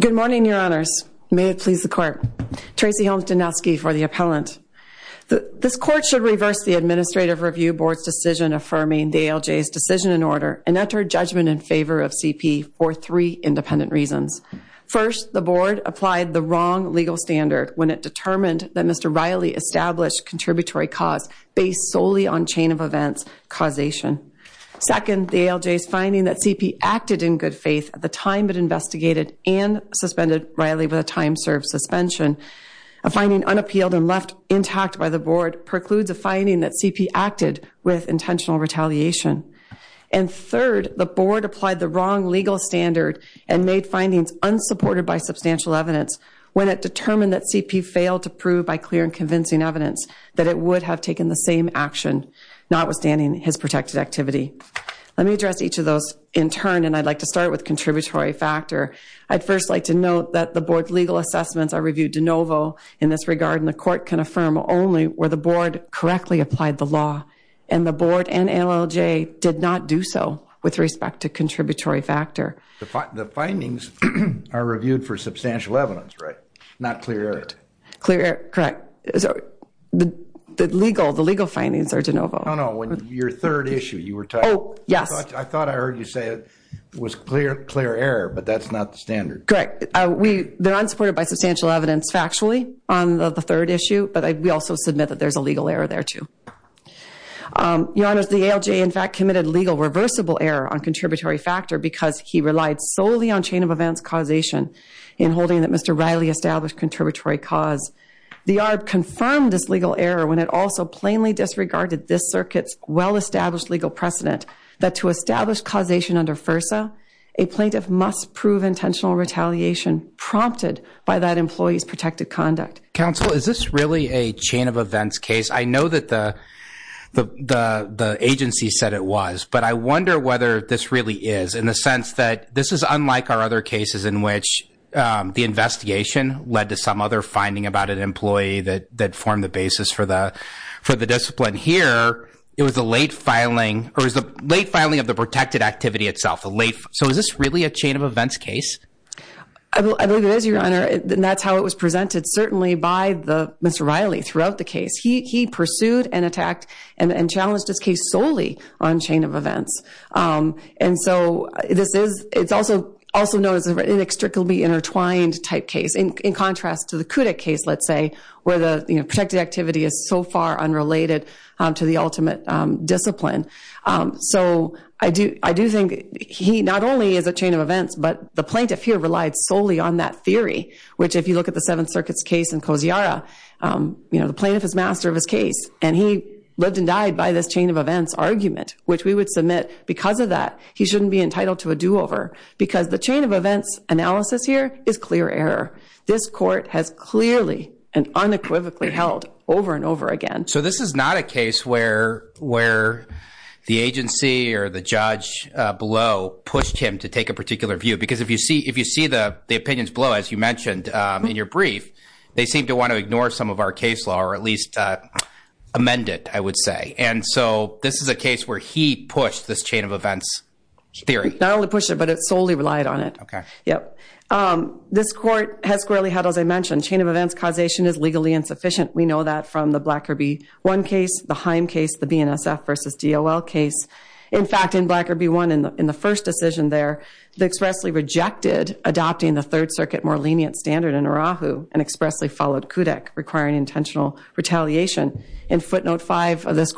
Good morning, Your Honors. May it please the Court. Tracy Helmstenowski for the Appellant. This Court should reverse the Administrative Review Board's decision affirming the ALJ's decision and order and enter judgment in favor of CP for three independent reasons. First, the Board applied the wrong legal standard when it determined that Mr. Riley established contributory cause based solely on chain of events causation. Second, the ALJ's finding that CP acted in good faith at the time it investigated and suspended Riley with a time served suspension. A finding unappealed and left intact by the Board precludes a finding that CP acted with intentional retaliation. And third, the Board applied the wrong legal standard and made findings unsupported by substantial evidence when it determined that it would have taken the same action notwithstanding his protected activity. Let me address each of those in turn and I'd like to start with contributory factor. I'd first like to note that the Board's legal assessments are reviewed de novo in this regard and the Court can affirm only where the Board correctly applied the law and the Board and ALJ did not do so with respect to contributory the legal the legal findings are de novo. Oh no, when your third issue you were talking. Oh yes. I thought I heard you say it was clear clear error but that's not the standard. Correct, we they're unsupported by substantial evidence factually on the third issue but we also submit that there's a legal error there too. Your Honor, the ALJ in fact committed legal reversible error on contributory factor because he relied solely on chain of events causation in holding that Mr. Riley established contributory cause. The ARB confirmed this legal error when it also plainly disregarded this circuit's well-established legal precedent that to establish causation under FIRSA a plaintiff must prove intentional retaliation prompted by that employee's protected conduct. Counsel, is this really a chain of events case? I know that the the the agency said it was but I wonder whether this really is in the sense that this is unlike our other cases in which the investigation led to some other finding about an employee that that formed the basis for the for the discipline. Here it was a late filing or is the late filing of the protected activity itself a late so is this really a chain of events case? I believe it is your Honor and that's how it was presented certainly by the Mr. Riley throughout the case. He he pursued and attacked and challenged his case solely on chain of events and so this is it's also also known as an inextricably intertwined type case in contrast to the Kudak case let's say where the you know protected activity is so far unrelated to the ultimate discipline. So I do I do think he not only is a chain of events but the plaintiff here relied solely on that theory which if you look at the Seventh Circuit's case in Kosiara you know the plaintiff is master of his case and he lived and died by this chain of events argument which we would submit because of that he shouldn't be entitled to a do-over because the chain of events analysis here is clear error. This court has clearly and unequivocally held over and over again. So this is not a case where where the agency or the judge below pushed him to take a particular view because if you see if you see the the opinions below as you mentioned in your brief they seem to want to ignore some of our case law or at least amend it I would say and so this is a push this chain of events theory. Not only push it but it's solely relied on it. Okay. Yep this court has clearly had as I mentioned chain of events causation is legally insufficient we know that from the Blacker B-1 case, the Heim case, the BNSF versus DOL case. In fact in Blacker B-1 in the first decision there they expressly rejected adopting the Third Circuit more lenient standard in Urahu and expressly followed Kudak requiring intentional retaliation. In footnote five of this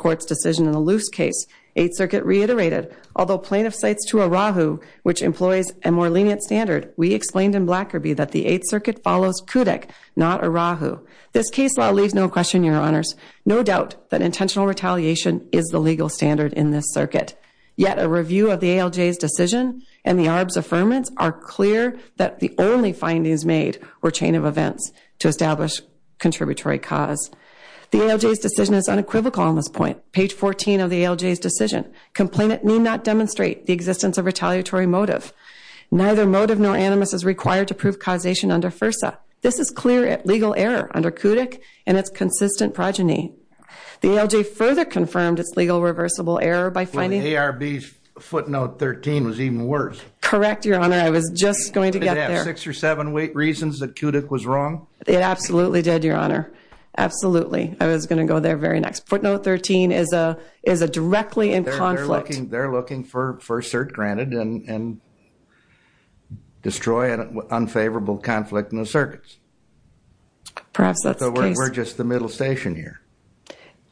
reiterated although plaintiff cites to Urahu which employs a more lenient standard we explained in Blacker B-1 that the Eighth Circuit follows Kudak not Urahu. This case law leaves no question your honors. No doubt that intentional retaliation is the legal standard in this circuit. Yet a review of the ALJ's decision and the ARB's affirmance are clear that the only findings made were chain of events to establish contributory cause. The ALJ's decision is unequivocal on this point. Page 14 of the ALJ's decision complainant need not demonstrate the existence of retaliatory motive. Neither motive nor animus is required to prove causation under FIRSA. This is clear legal error under Kudak and its consistent progeny. The ALJ further confirmed its legal reversible error by finding ARB's footnote 13 was even worse. Correct your honor I was just going to get there. Six or seven reasons that Kudak was wrong. It absolutely did your honor. Absolutely. I was going to go there very next. Footnote 13 is a is a directly in conflict. They're looking for for cert granted and destroy an unfavorable conflict in the circuits. Perhaps that's the case. We're just the middle station here.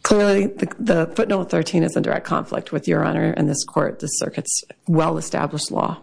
Clearly the footnote 13 is in direct conflict with your honor in this court the circuit's well-established law.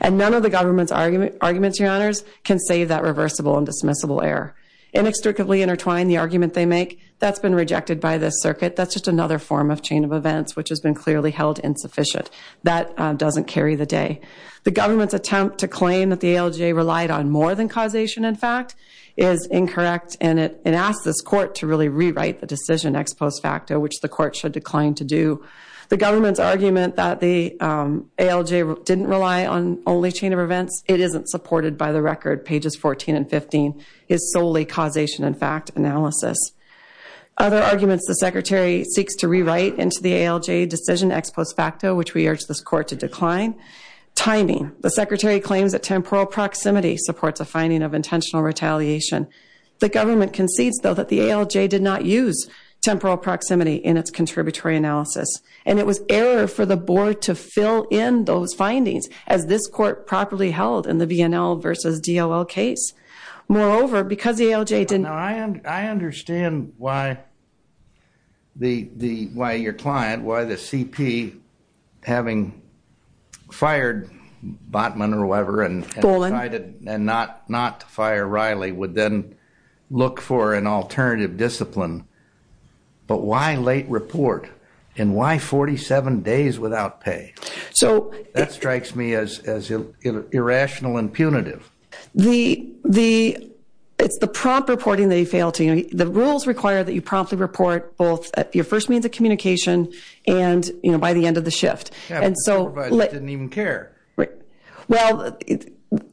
And none of the government's argument arguments your honors can save that reversible and dismissible error. Inextricably intertwined the argument they make that's been rejected by this circuit. That's just another form of chain of events which has been clearly held insufficient. That doesn't carry the day. The government's attempt to claim that the ALJ relied on more than causation in fact is incorrect. And it asked this court to really rewrite the decision ex post facto which the court should decline to do. The government's argument that the ALJ didn't rely on only chain of events. It isn't supported by the record pages 14 and 15 is solely causation and fact analysis. Other arguments the secretary seeks to rewrite into the ALJ decision ex post facto which we urge this court to decline. Timing. The secretary claims that temporal proximity supports a finding of intentional retaliation. The government concedes though that the ALJ did not use temporal proximity in its contributory analysis. And it was error for the board to fill in those findings as this court properly held in the VNL versus DOL case. Moreover because the ALJ didn't. I understand why the why your client why the CP having fired Botman or whoever and decided and not to fire Riley would then look for an alternative discipline. But why late report? And why 47 days without pay? So that strikes me as irrational and punitive. The the it's the prompt reporting they fail to you know the rules require that you promptly report both at your first means of communication and you know by the end of the shift. And so didn't even care. Well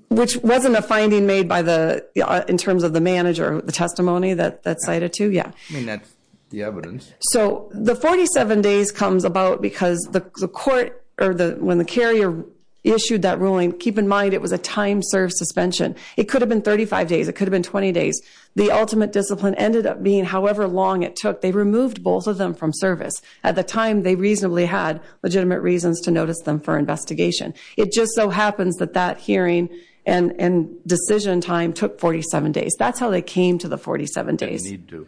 which wasn't a finding made by the in terms of the manager the testimony that that's cited to yeah. I mean that's the evidence. So the 47 days comes about because the court or the when the carrier issued that ruling. Keep in mind it was a time served suspension. It could have been 35 days. It could have been 20 days. The ultimate discipline ended up being however long it took. They removed both of them from service. At the time they reasonably had legitimate reasons to notice them for investigation. It just so happens that that hearing and and decision time took 47 days. That's how they came to the 47 days. They need to.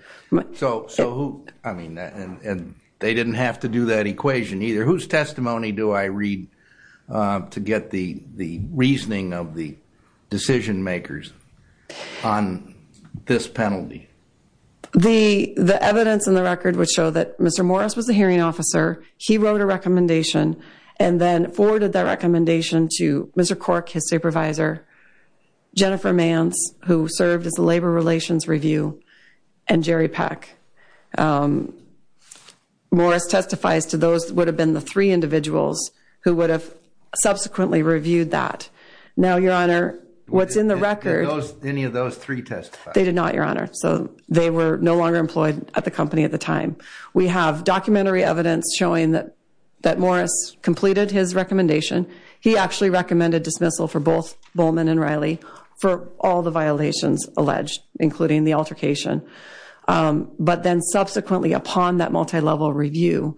So so I mean and they didn't have to do that equation either. Whose testimony do I read to get the the reasoning of the decision makers on this penalty? The the evidence in the record would show that Mr. Morris was a hearing officer. He wrote a recommendation and then forwarded that recommendation to Mr. Cork, his supervisor, Jennifer Mance who served as the labor relations review and Jerry Peck. Morris testifies to those would have been the three individuals who would have subsequently reviewed that. Now your honor what's in the record. Any of those three testified? They did not your honor. So they were no longer employed at the company at the time. We have documentary evidence showing that that Morris completed his recommendation. He actually recommended dismissal for both Bowman and Riley for all the violations alleged including the altercation. But then subsequently upon that multi-level review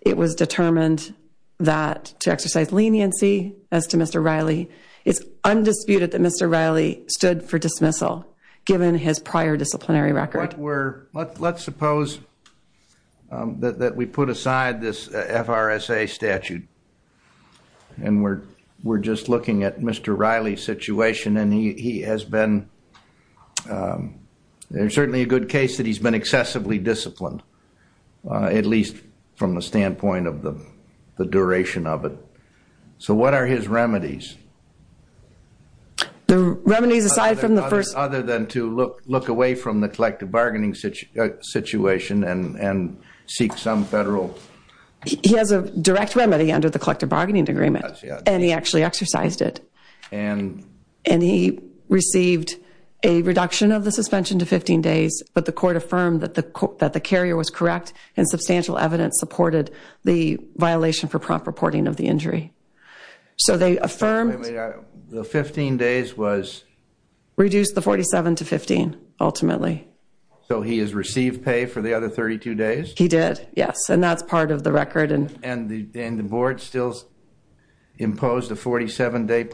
it was determined that to exercise leniency as to Mr. Riley it's undisputed that Mr. Riley stood for dismissal given his prior disciplinary record. Let's suppose that we put aside this FRSA statute and we're we're just looking at Mr. Riley's situation and he he has been um there's certainly a good case that he's been excessively disciplined at least from the standpoint of the the duration of it. So what are his remedies? The remedies aside from the first. Other than to look look away from the collective bargaining situation and and seek some federal. He has a direct remedy under the collective bargaining agreement and he actually exercised it and and he received a reduction of the suspension to 15 days but the court affirmed that the that the carrier was correct and substantial evidence supported the violation for prompt reporting of the injury. So they affirmed the 15 days was reduced the 47 to 15 ultimately. So he has received pay for the other 32 days? He did yes and that's of the record and and the and the board still imposed a 47-day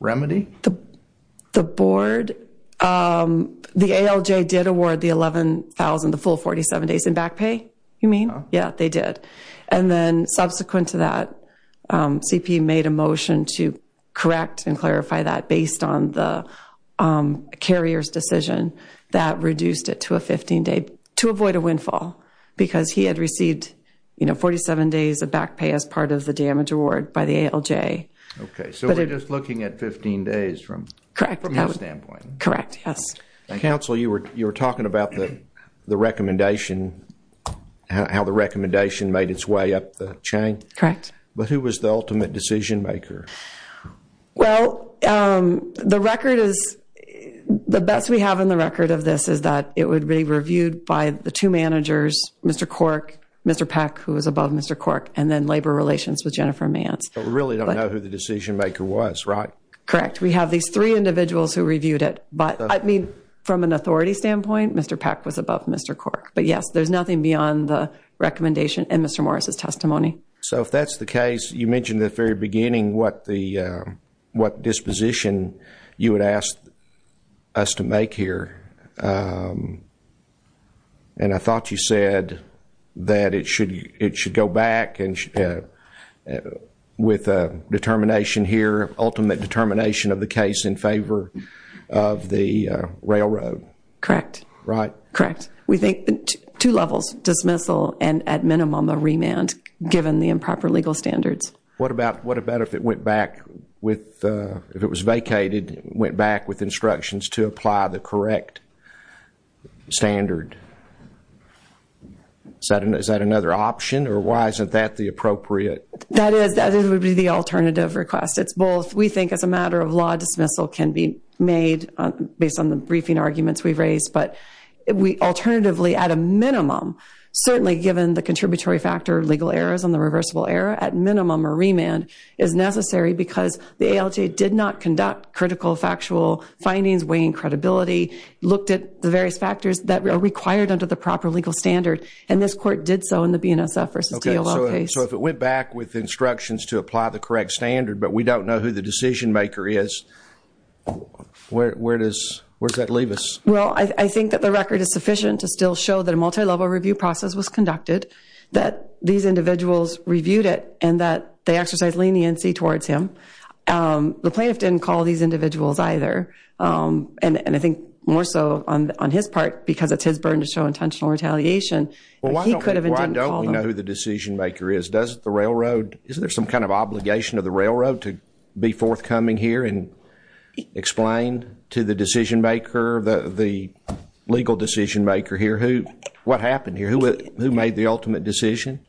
remedy? The board um the ALJ did award the 11,000 the full 47 days in back pay you mean? Yeah they did and then subsequent to that um CP made a motion to correct and clarify that based on the um carrier's decision that reduced it to a 15 day to avoid a windfall because he had received you know 47 days of back pay as part of the damage award by the ALJ. Okay so we're just looking at 15 days from correct from his standpoint? Correct yes. Counsel you were you were talking about the the recommendation how the recommendation made its way up the chain? Correct. But who was the ultimate decision maker? Well um the record is the best we have in the record of this is that it would be reviewed by the two managers Mr. Cork, Mr. Peck who was above Mr. Cork and then labor relations with Jennifer Mance. But we really don't know who the decision maker was right? Correct we have these three individuals who reviewed it but I mean from an authority standpoint Mr. Peck was above Mr. Cork but yes there's nothing beyond the recommendation and Mr. Morris's testimony. So if that's the case you mentioned at the very beginning what the uh what disposition you would ask us to make here um and I thought you said that it should it should go back and with a determination here ultimate determination of the case in favor of the railroad? Correct. Right? Correct we think two levels dismissal and at minimum a remand given the improper legal standards. What about what about if it went back with uh if it was vacated went back with instructions to apply the correct standard? Is that another option or why isn't that the appropriate? That is that it would be the alternative request it's both we think as a matter of law dismissal can be made based on the minimum certainly given the contributory factor legal errors on the reversible error at minimum a remand is necessary because the ALJ did not conduct critical factual findings weighing credibility looked at the various factors that are required under the proper legal standard and this court did so in the BNSF versus DOL case. So if it went back with instructions to apply the correct standard but we don't know who the decision maker is where does where does that show that a multi-level review process was conducted that these individuals reviewed it and that they exercised leniency towards him um the plaintiff didn't call these individuals either um and and I think more so on on his part because it's his burden to show intentional retaliation well why don't we know who the decision maker is does the railroad is there some kind of obligation of the railroad to be forthcoming here and explain to the decision maker the the legal decision maker here who what happened here who who made the ultimate decision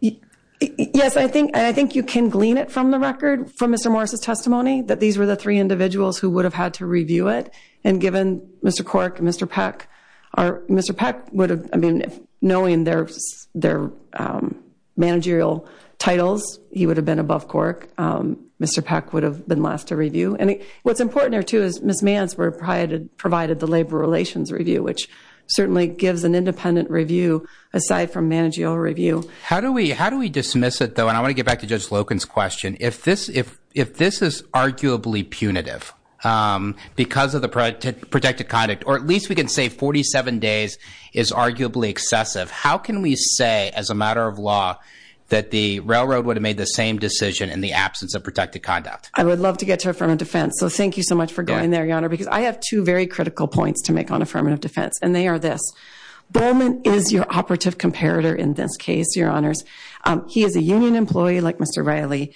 yes I think I think you can glean it from the record from Mr. Morris's testimony that these were the three individuals who would have had to review it and given Mr. Cork and Mr. Peck are Mr. Peck would have I mean knowing their their um managerial titles he would have been above Cork um Mr. Peck would have been last to review and what's important there too is Ms. Mance were provided the labor relations review which certainly gives an independent review aside from managerial review how do we how do we dismiss it though and I want to get back to Judge Loken's question if this if if this is arguably punitive um because of the protected conduct or at least we can say 47 days is arguably excessive how can we say as a matter of law that the railroad would have made the same decision in the absence of protected conduct I would love to get to a firm of defense so thank you so much for going there your because I have two very critical points to make on affirmative defense and they are this Bowman is your operative comparator in this case your honors he is a union employee like Mr. Riley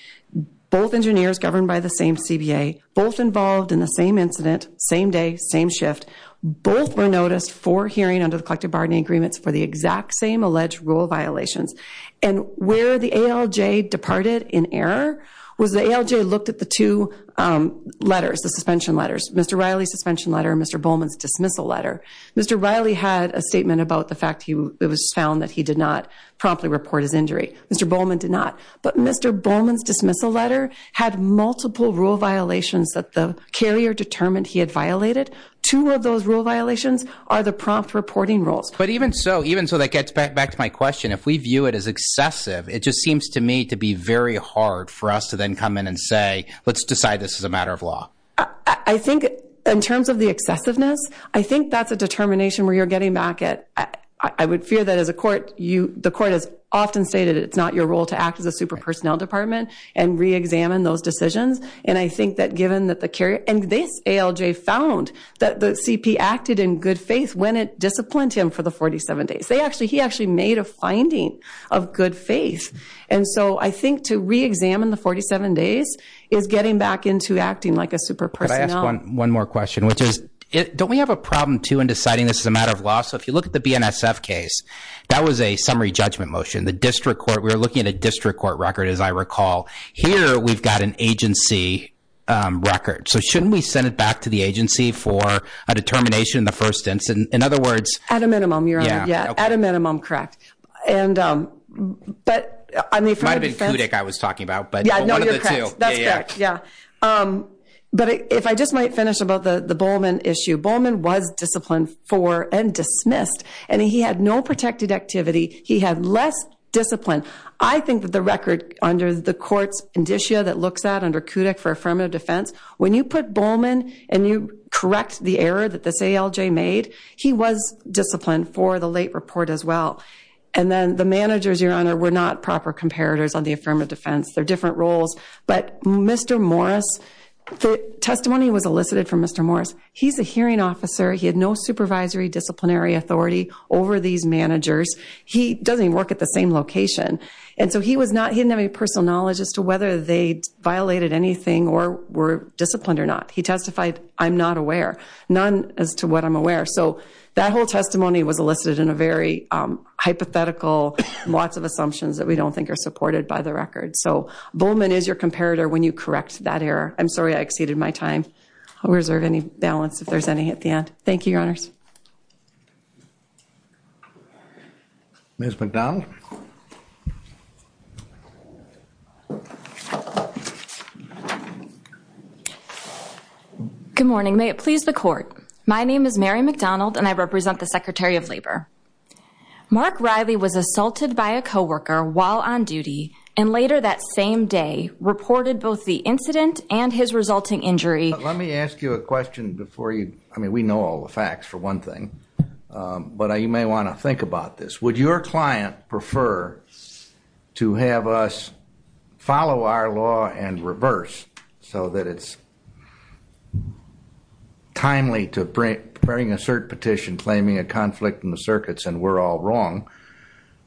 both engineers governed by the same CBA both involved in the same incident same day same shift both were noticed for hearing under the collective bargaining agreements for the exact same alleged rule violations and where the ALJ departed in error was the ALJ looked at the two letters the suspension letters Mr. Riley's suspension letter Mr. Bowman's dismissal letter Mr. Riley had a statement about the fact he was found that he did not promptly report his injury Mr. Bowman did not but Mr. Bowman's dismissal letter had multiple rule violations that the carrier determined he had violated two of those rule violations are the prompt reporting roles but even so even so that gets back back to my question if we view it as excessive it just a matter of law I think in terms of the excessiveness I think that's a determination where you're getting back at I would fear that as a court you the court has often stated it's not your role to act as a super personnel department and re-examine those decisions and I think that given that the carrier and this ALJ found that the CP acted in good faith when it disciplined him for the 47 days they actually he actually made a finding of good faith and so I to re-examine the 47 days is getting back into acting like a super person one more question which is don't we have a problem too in deciding this is a matter of law so if you look at the BNSF case that was a summary judgment motion the district court we were looking at a district court record as I recall here we've got an agency record so shouldn't we send it back to the agency for a determination in the first instance in other words at a minimum you're on it yeah at a minimum correct and but I mean it might have been Kudik I was talking about but yeah no you're correct that's correct yeah but if I just might finish about the the Bowman issue Bowman was disciplined for and dismissed and he had no protected activity he had less discipline I think that the record under the court's indicia that looks at under Kudik for affirmative defense when you put Bowman and you correct the error that this ALJ made he was disciplined for the late report as well and then the managers your honor were not proper comparators on the affirmative defense they're different roles but Mr. Morris the testimony was elicited from Mr. Morris he's a hearing officer he had no supervisory disciplinary authority over these managers he doesn't work at the same location and so he was not he didn't have any personal knowledge as to whether they violated anything or were disciplined or not he testified I'm not aware none as to what I'm aware so that whole testimony was elicited in a very hypothetical lots of assumptions that we don't think are supported by the record so Bowman is your comparator when you correct that error I'm sorry I exceeded my time I'll reserve any balance if there's any at the end thank you your honors thank you Ms. Macdonald good morning may it please the court my name is Mary Macdonald and I represent the secretary of labor Mark Riley was assaulted by a co-worker while on duty and later that same day reported both the incident and his resulting injury let me ask you a question before you I mean we know all the facts for one thing but you may want to think about this would your client prefer to have us follow our law and reverse so that it's timely to bring a cert petition claiming a conflict in the circuits and we're all wrong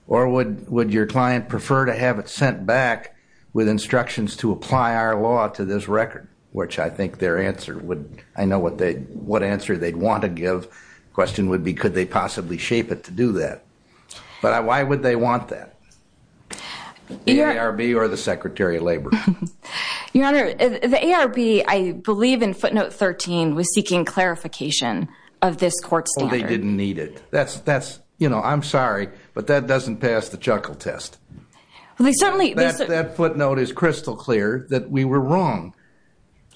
or would would your client prefer to have it sent back with instructions to apply our law to this record which I think their answer would I know what they what answer they'd want to give question would be could they possibly shape it to do that but why would they want that the ARB or the secretary of labor your honor the ARB I believe in footnote 13 was seeking clarification of this court standard they didn't need it that's that's you know I'm sorry but that doesn't pass the chuckle test well they certainly that footnote is crystal clear that we were wrong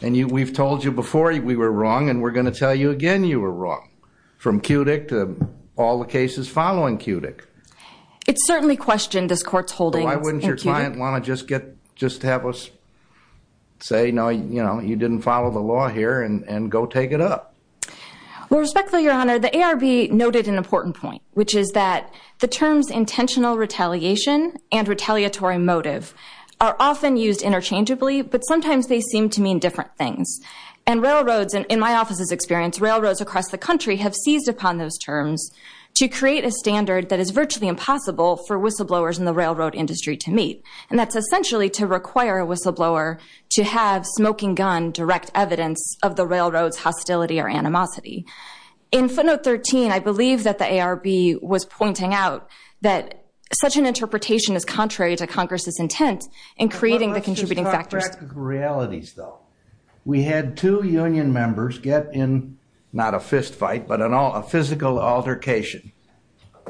and you we've told you before we were wrong and we're going to tell you again you were wrong from cutic to all the cases following cutic it's certainly questioned this court's holding why wouldn't your client want to just get just have us say no you know you didn't follow the law here and go take it up well respectfully your honor the ARB noted an important point which is that the terms intentional retaliation and retaliatory motive are often used interchangeably but sometimes they seem to mean different things and railroads and in my office's experience railroads across the country have seized upon those terms to create a standard that is virtually impossible for whistleblowers in the railroad industry to meet and that's essentially to require a whistleblower to have smoking gun direct evidence of the railroad's hostility or animosity in footnote 13 I believe that the ARB was pointing out that such an interpretation is contrary to congress's intent in creating the contributing factors realities though we had two union members get in not a fistfight but an all a physical altercation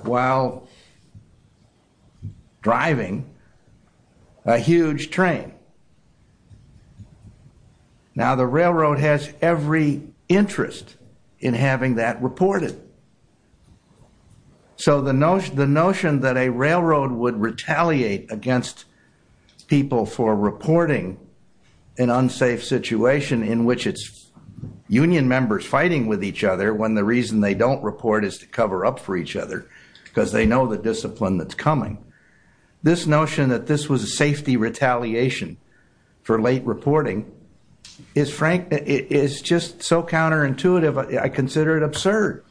while driving a huge train now the railroad has every interest in having that reported so the notion the notion that a railroad would retaliate against people for reporting an unsafe situation in which it's union members fighting with each other when the reason they don't report is to cover up for each other because they know the discipline that's coming this notion that this was a safety retaliation for late reporting is frank it is just so counterintuitive I consider it absurd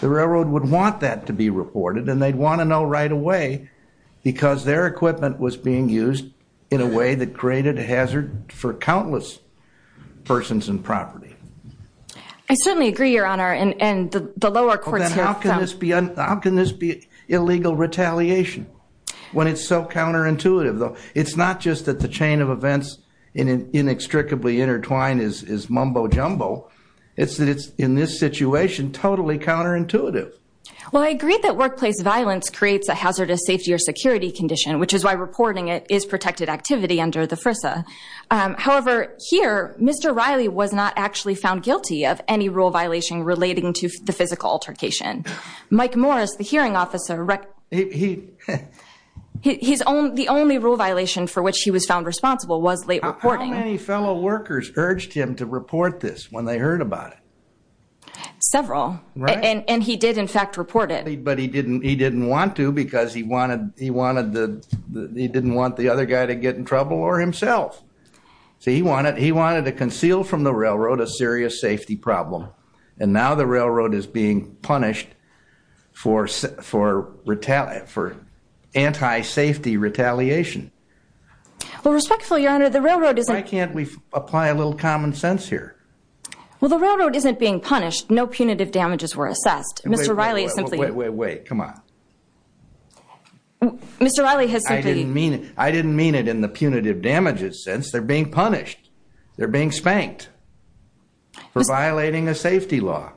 the railroad would want that to be reported and they'd want to know right away because their equipment was being used in a way that created a hazard for countless persons and property I certainly agree your honor and and the the lower courts how can this be how can this be illegal retaliation when it's so counterintuitive though it's not just that the chain of events in an inextricably intertwined is is mumbo-jumbo it's that it's in this situation totally counterintuitive well I agree that workplace violence creates a hazardous safety or security condition which is why reporting it is protected activity under the FRISA however here Mr. Riley was not actually found guilty of any rule violation relating to the physical altercation Mike Morris the hearing officer he he's own the only rule violation for which he was found responsible was late reporting how many fellow workers urged him to report this when they heard about it several right and and he did in fact report it but he didn't he didn't want to because he wanted he wanted the he didn't want the other guy to get in trouble or himself so he wanted he wanted to conceal from the railroad a serious safety problem and now the railroad is being punished for for retaliate for anti-safety retaliation well respectfully your honor the railroad is why can't we apply a little common sense here well the railroad isn't being punished no punitive damages were assessed Mr. Riley come on Mr. Riley has I didn't mean it I didn't mean it in the punitive damages sense they're being punished they're being spanked for violating a safety law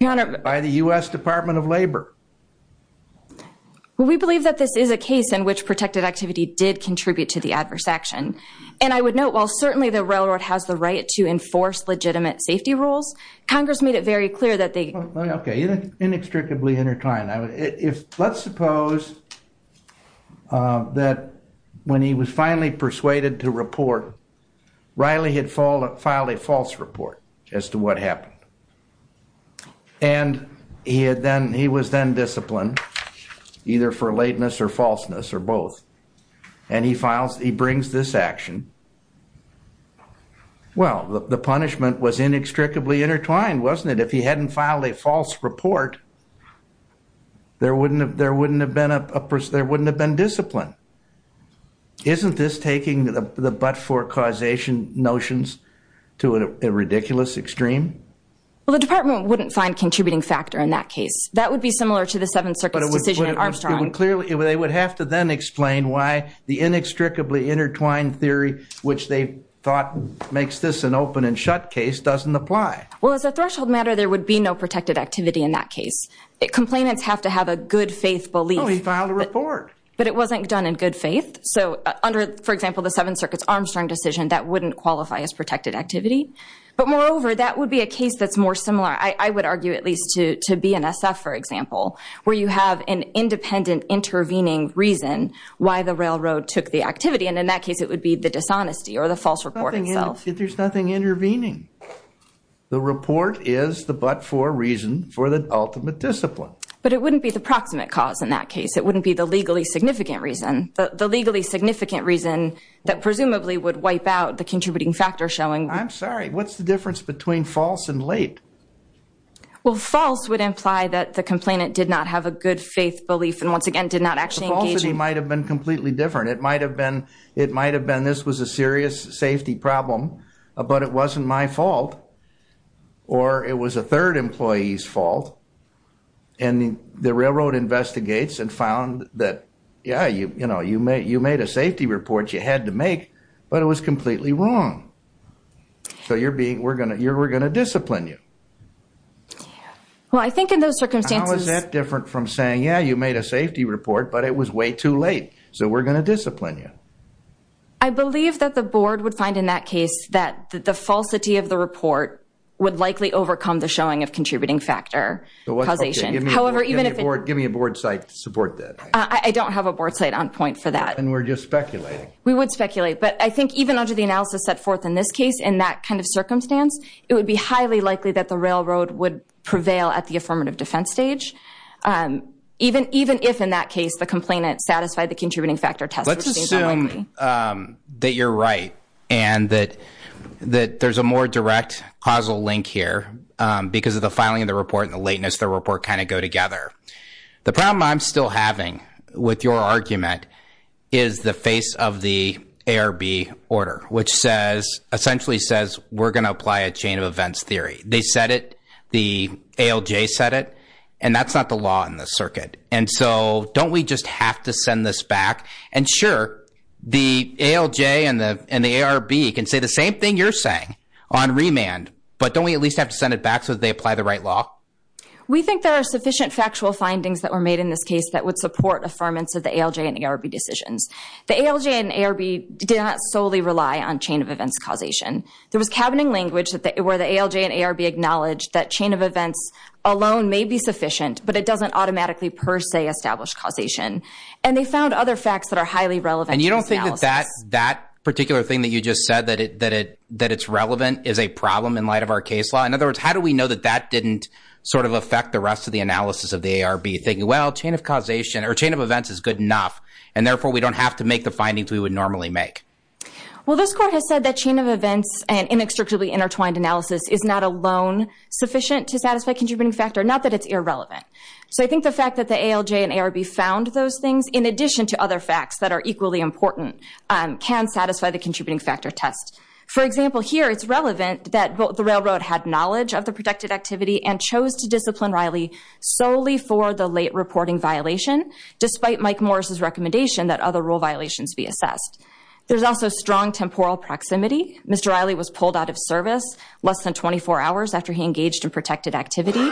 your honor by the U.S. Department of Labor well we believe that this is a case in which protected activity did contribute to the adverse action and I would note while certainly the railroad has the right to enforce legitimate safety rules congress made it very clear that they okay inextricably intertwined I would if let's suppose that when he was finally persuaded to report Riley had filed a false report as to what happened and he had then he was then disciplined either for lateness or falseness or and he files he brings this action well the punishment was inextricably intertwined wasn't it if he hadn't filed a false report there wouldn't have there wouldn't have been a there wouldn't have been discipline isn't this taking the the but-for causation notions to a ridiculous extreme well the department wouldn't find contributing factor in that case that would be similar to the why the inextricably intertwined theory which they thought makes this an open and shut case doesn't apply well as a threshold matter there would be no protected activity in that case complainants have to have a good faith belief he filed a report but it wasn't done in good faith so under for example the seven circuits armstrong decision that wouldn't qualify as protected activity but moreover that would be a case that's more similar I would argue at least to to be an reason why the railroad took the activity and in that case it would be the dishonesty or the false reporting itself if there's nothing intervening the report is the but-for reason for the ultimate discipline but it wouldn't be the proximate cause in that case it wouldn't be the legally significant reason the legally significant reason that presumably would wipe out the contributing factor showing I'm sorry what's the difference between false and late well false would imply that the complainant did not have a good faith belief and once again did not actually might have been completely different it might have been it might have been this was a serious safety problem but it wasn't my fault or it was a third employee's fault and the railroad investigates and found that yeah you you know you may you made a safety report you had to make but it was completely wrong so you're being we're gonna you're we're gonna discipline you yeah well I think in those circumstances that different from saying yeah you made a safety report but it was way too late so we're gonna discipline you I believe that the board would find in that case that the falsity of the report would likely overcome the showing of contributing factor causation however even if it were give me a board site to support that I don't have a board site on point for that and we're just speculating we would speculate but I think even under the railroad would prevail at the affirmative defense stage even even if in that case the complainant satisfied the contributing factor test let's assume that you're right and that that there's a more direct causal link here because of the filing of the report and the lateness the report kind of go together the problem I'm still having with your argument is the face of the ARB order which says essentially says we're going to apply a chain of events theory they said it the ALJ said it and that's not the law in this circuit and so don't we just have to send this back and sure the ALJ and the and the ARB can say the same thing you're saying on remand but don't we at least have to send it back so they apply the right law we think there are sufficient factual findings that were made in this case that would support affirmance of the ALJ and ARB decisions the ALJ and ARB did not solely rely on chain of events causation there was cabining language that they were the ALJ and ARB acknowledged that chain of events alone may be sufficient but it doesn't automatically per se establish causation and they found other facts that are highly relevant and you don't think that that that particular thing that you just said that it that it that it's relevant is a problem in light of our case law in other words how do we know that that didn't sort of affect the rest of the analysis of the ARB thinking well chain of causation or chain of events is good and therefore we don't have to make the findings we would normally make well this court has said that chain of events and inextricably intertwined analysis is not alone sufficient to satisfy contributing factor not that it's irrelevant so i think the fact that the ALJ and ARB found those things in addition to other facts that are equally important um can satisfy the contributing factor test for example here it's relevant that the railroad had knowledge of the protected activity and chose to discipline Riley solely for the late reporting violation despite Mike Morris's recommendation that other rule violations be assessed there's also strong temporal proximity Mr. Riley was pulled out of service less than 24 hours after he engaged in protected activity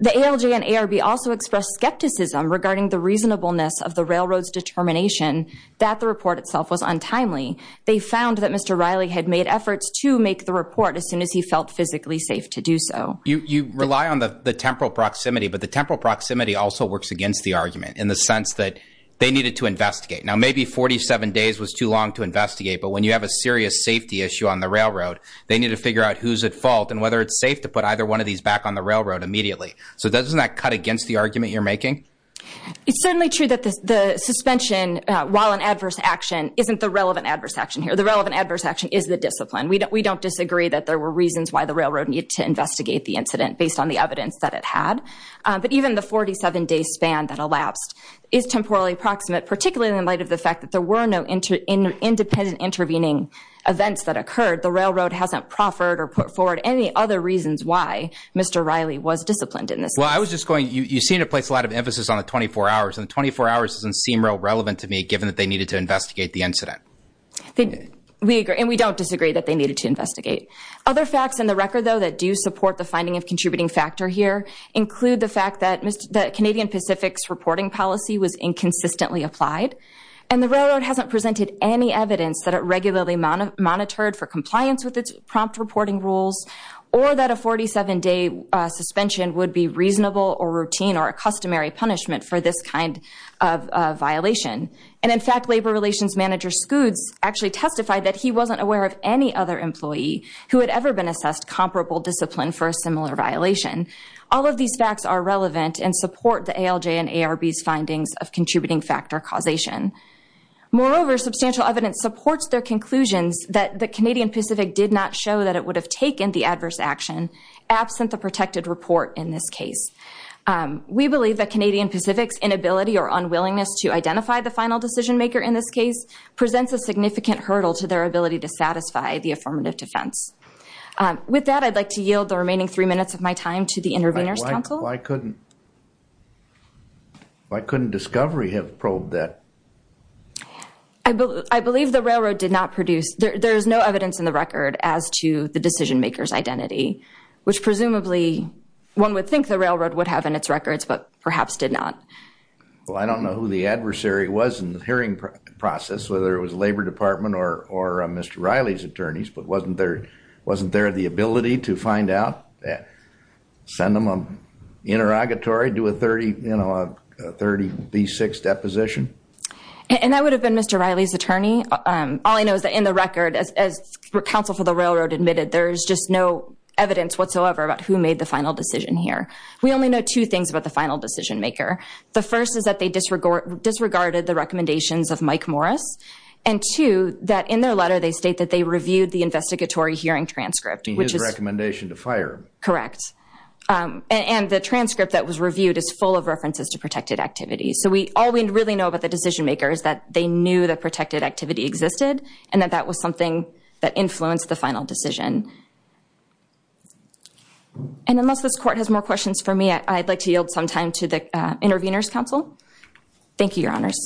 the ALJ and ARB also expressed skepticism regarding the reasonableness of the railroad's determination that the report itself was untimely they found that Mr. Riley had made efforts to make the report as soon as he felt physically safe to do so you you rely on the the temporal proximity but the temporal proximity also works against the argument in the sense that they needed to investigate now maybe 47 days was too long to investigate but when you have a serious safety issue on the railroad they need to figure out who's at fault and whether it's safe to put either one of these back on the railroad immediately so doesn't that cut against the argument you're making it's certainly true that the the suspension uh while an adverse action isn't the relevant adverse action here the relevant adverse action is the discipline we don't we don't disagree that there were reasons why the railroad needed to investigate the incident based on the evidence that it had but even the 47 day span that elapsed is temporally approximate particularly in light of the fact that there were no inter independent intervening events that occurred the railroad hasn't proffered or put forward any other reasons why Mr. Riley was disciplined in this well I was just going you you seem to place a lot of emphasis on the 24 hours and the 24 hours doesn't seem real the incident we agree and we don't disagree that they needed to investigate other facts in the record though that do support the finding of contributing factor here include the fact that the Canadian Pacific's reporting policy was inconsistently applied and the railroad hasn't presented any evidence that it regularly monitored for compliance with its prompt reporting rules or that a 47 day uh suspension would be reasonable or routine or a customary punishment for this kind of violation and in fact labor relations manager scoots actually testified that he wasn't aware of any other employee who had ever been assessed comparable discipline for a similar violation all of these facts are relevant and support the ALJ and ARB's findings of contributing factor causation moreover substantial evidence supports their conclusions that the Canadian Pacific did not show that it would have taken the adverse action absent the protected report in this case we believe that Canadian Pacific's inability or unwillingness to identify the final decision maker in this case presents a significant hurdle to their ability to satisfy the affirmative defense with that I'd like to yield the remaining three minutes of my time to the interveners council why couldn't why couldn't discovery have probed that I believe I believe the railroad did not produce there's no evidence in the record as to the decision maker's identity which presumably one would think the railroad would have in its records but perhaps did not well I don't know who the adversary was in the hearing process whether it was labor department or or Mr. Riley's attorneys but wasn't there wasn't there the ability to find out that send them a interrogatory do a 30 you know a 30 v6 deposition and that would have been Mr. Riley's attorney um all I know is that in the here we only know two things about the final decision maker the first is that they disregard disregarded the recommendations of Mike Morris and two that in their letter they state that they reviewed the investigatory hearing transcript which is recommendation to fire correct um and the transcript that was reviewed is full of references to protected activity so we all we really know about the decision maker is that they knew that protected activity existed and that that was something that influenced the final decision and unless this court has more questions for me I'd like to yield some time to the intervenors council thank you your honors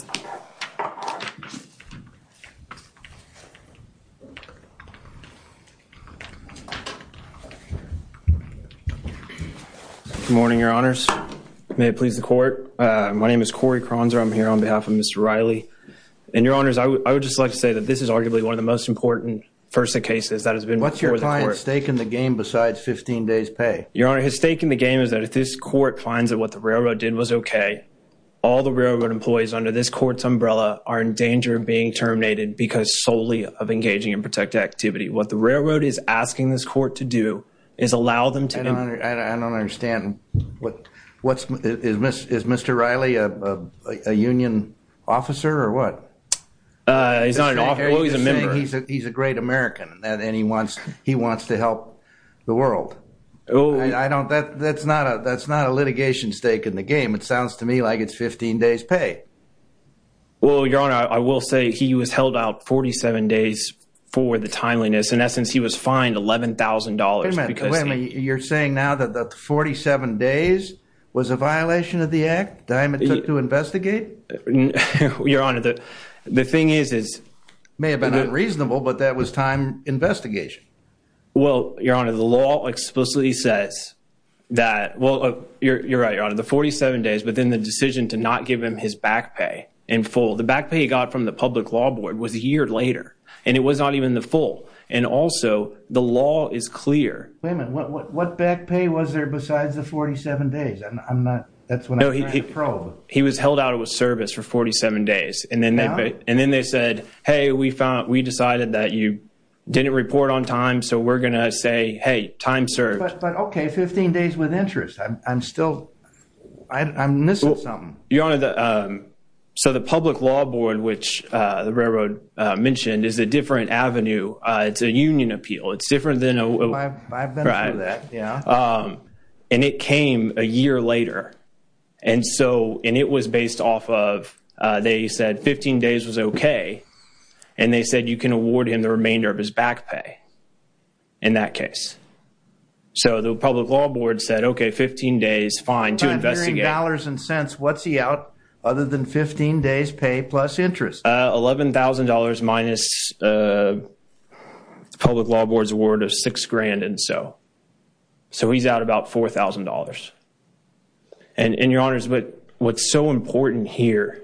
good morning your honors may it please the court uh my name is Corey Kronzer I'm here on behalf of important first cases that has been what's your client's stake in the game besides 15 days pay your honor his stake in the game is that if this court finds that what the railroad did was okay all the railroad employees under this court's umbrella are in danger of being terminated because solely of engaging in protected activity what the railroad is asking this court to do is allow them to I don't understand what what's is miss is Mr. Riley a a union officer or what uh he's not an officer he's a member he's a great American and he wants he wants to help the world oh I don't that that's not a that's not a litigation stake in the game it sounds to me like it's 15 days pay well your honor I will say he was held out 47 days for the timeliness in essence he was fined 11 000 because you're saying now that the 47 days was a violation of the act diamond took to investigate your honor the the thing is is may have been unreasonable but that was time investigation well your honor the law explicitly says that well you're right your honor the 47 days but then the decision to not give him his back pay in full the back pay he got from the public law board was a year later and it was not even the full and also the law is clear wait a he was held out of service for 47 days and then and then they said hey we found we decided that you didn't report on time so we're gonna say hey time served but okay 15 days with interest I'm still I'm missing something your honor the um so the public law board which uh the railroad uh mentioned is a different avenue uh it's a union appeal it's different than a I've been through um and it came a year later and so and it was based off of uh they said 15 days was okay and they said you can award him the remainder of his back pay in that case so the public law board said okay 15 days fine to investigate dollars and cents what's he out other than 15 days pay plus interest uh eleven thousand dollars minus uh public law board's award of six grand and so so he's out about four thousand dollars and in your honors but what's so important here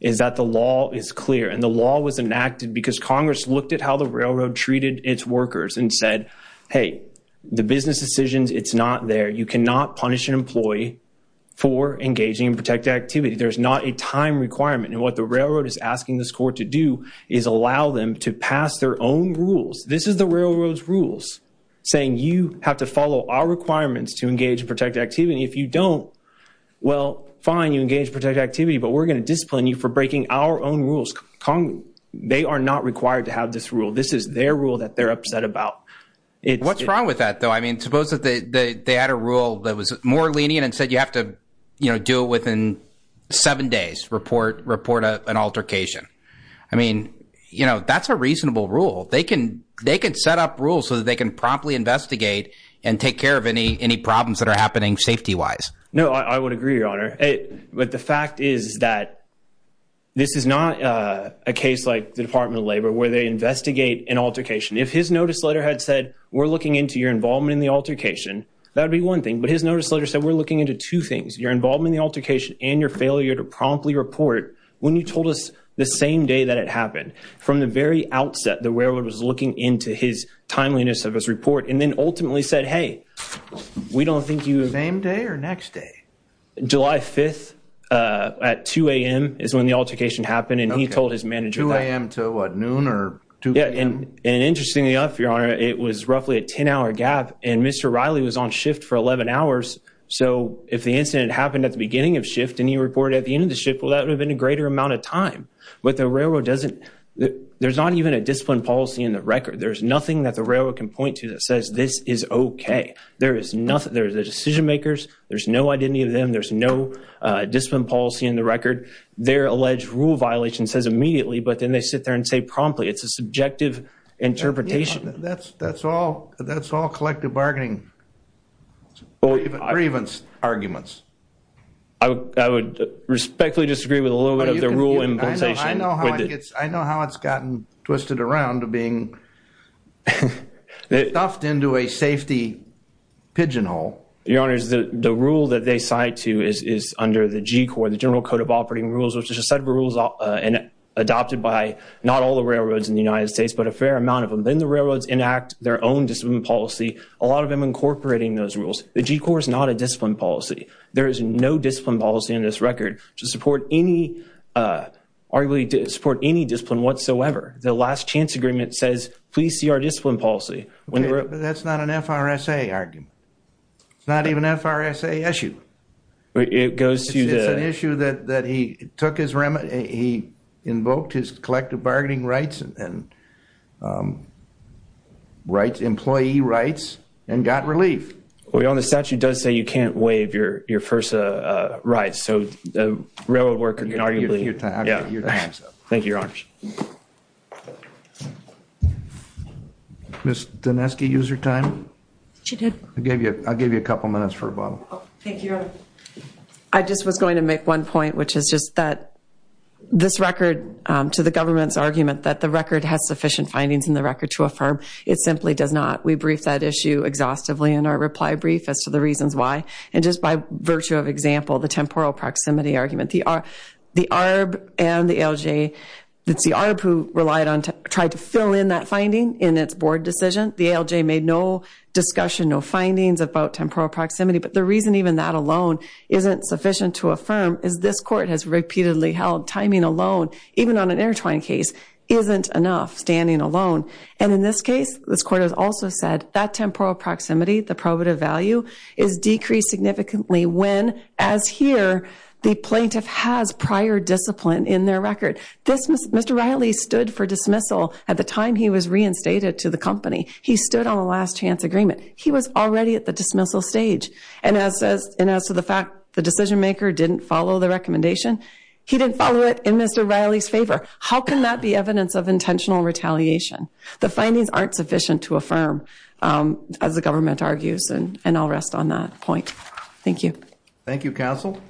is that the law is clear and the law was enacted because congress looked at how the railroad treated its workers and said hey the business decisions it's not there you cannot punish an employee for engaging in protected activity there's not a time requirement and what the railroad is asking this court to do is allow them to pass their own rules this is the railroad's saying you have to follow our requirements to engage in protected activity if you don't well fine you engage protected activity but we're going to discipline you for breaking our own rules con they are not required to have this rule this is their rule that they're upset about it what's wrong with that though i mean suppose that they they had a rule that was more lenient and said you have to you know do it within seven days report report an altercation i mean you know that's a reasonable rule they can they can set up rules so that they can promptly investigate and take care of any any problems that are happening safety wise no i would agree your honor hey but the fact is that this is not uh a case like the department of labor where they investigate an altercation if his notice letter had said we're looking into your involvement in the altercation that'd be one thing but his notice letter said we're looking into two things you're involved in the altercation and your failure to promptly report when you told us the same day that it happened from the very outset the railroad was looking into his timeliness of his report and then ultimately said hey we don't think you same day or next day july 5th uh at 2 a.m is when the altercation happened and he told his manager i am to what noon or 2 a.m and interestingly enough your honor it was roughly a 10 hour gap and mr riley was on shift for 11 hours so if the incident happened at the beginning of shift and he reported at the end of shift well that would have been a greater amount of time but the railroad doesn't there's not even a discipline policy in the record there's nothing that the railroad can point to that says this is okay there is nothing there's a decision makers there's no identity of them there's no discipline policy in the record their alleged rule violation says immediately but then they sit there and say promptly it's a subjective interpretation that's that's all that's all bargaining or even grievance arguments i would respectfully disagree with a little bit of the rule implementation i know how it gets i know how it's gotten twisted around to being stuffed into a safety pigeonhole your honor is the the rule that they cite to is is under the g corps the general code of operating rules which is a set of rules uh and adopted by not all the railroads in the united states but a fair amount of them then the railroads enact their own discipline policy a lot of them incorporating those rules the g corps is not a discipline policy there is no discipline policy in this record to support any uh arguably to support any discipline whatsoever the last chance agreement says please see our discipline policy when that's not an frsa argument it's not even frsa issue it goes to the issue that that he took his remedy he invoked his collective bargaining rights and um right employee rights and got relief well the statute does say you can't waive your your first uh uh right so the railroad worker can argue thank you your honor miss daneski use your time she did i gave you i'll give you a couple minutes for a bottle thank you i just was going to make one point which is just that this record to the government's argument that the record has sufficient findings in the record to affirm it simply does not we brief that issue exhaustively in our reply brief as to the reasons why and just by virtue of example the temporal proximity argument the r the arb and the lj that's the arb who relied on to try to fill in that finding in its board decision the lj made no discussion no findings about temporal proximity but the reason even that alone isn't sufficient to affirm is this court has repeatedly held timing alone even on an intertwined case isn't enough standing alone and in this case this court has also said that temporal proximity the probative value is decreased significantly when as here the plaintiff has prior discipline in their record this mr riley stood for dismissal at the time he was reinstated to the company he stood on the last chance agreement he was already at the dismissal stage and as says and as to the fact the decision maker didn't follow the recommendation he didn't follow it in mr riley's favor how can that be evidence of intentional retaliation the findings aren't sufficient to affirm um as the government argues and and i'll rest on that point thank you thank you counsel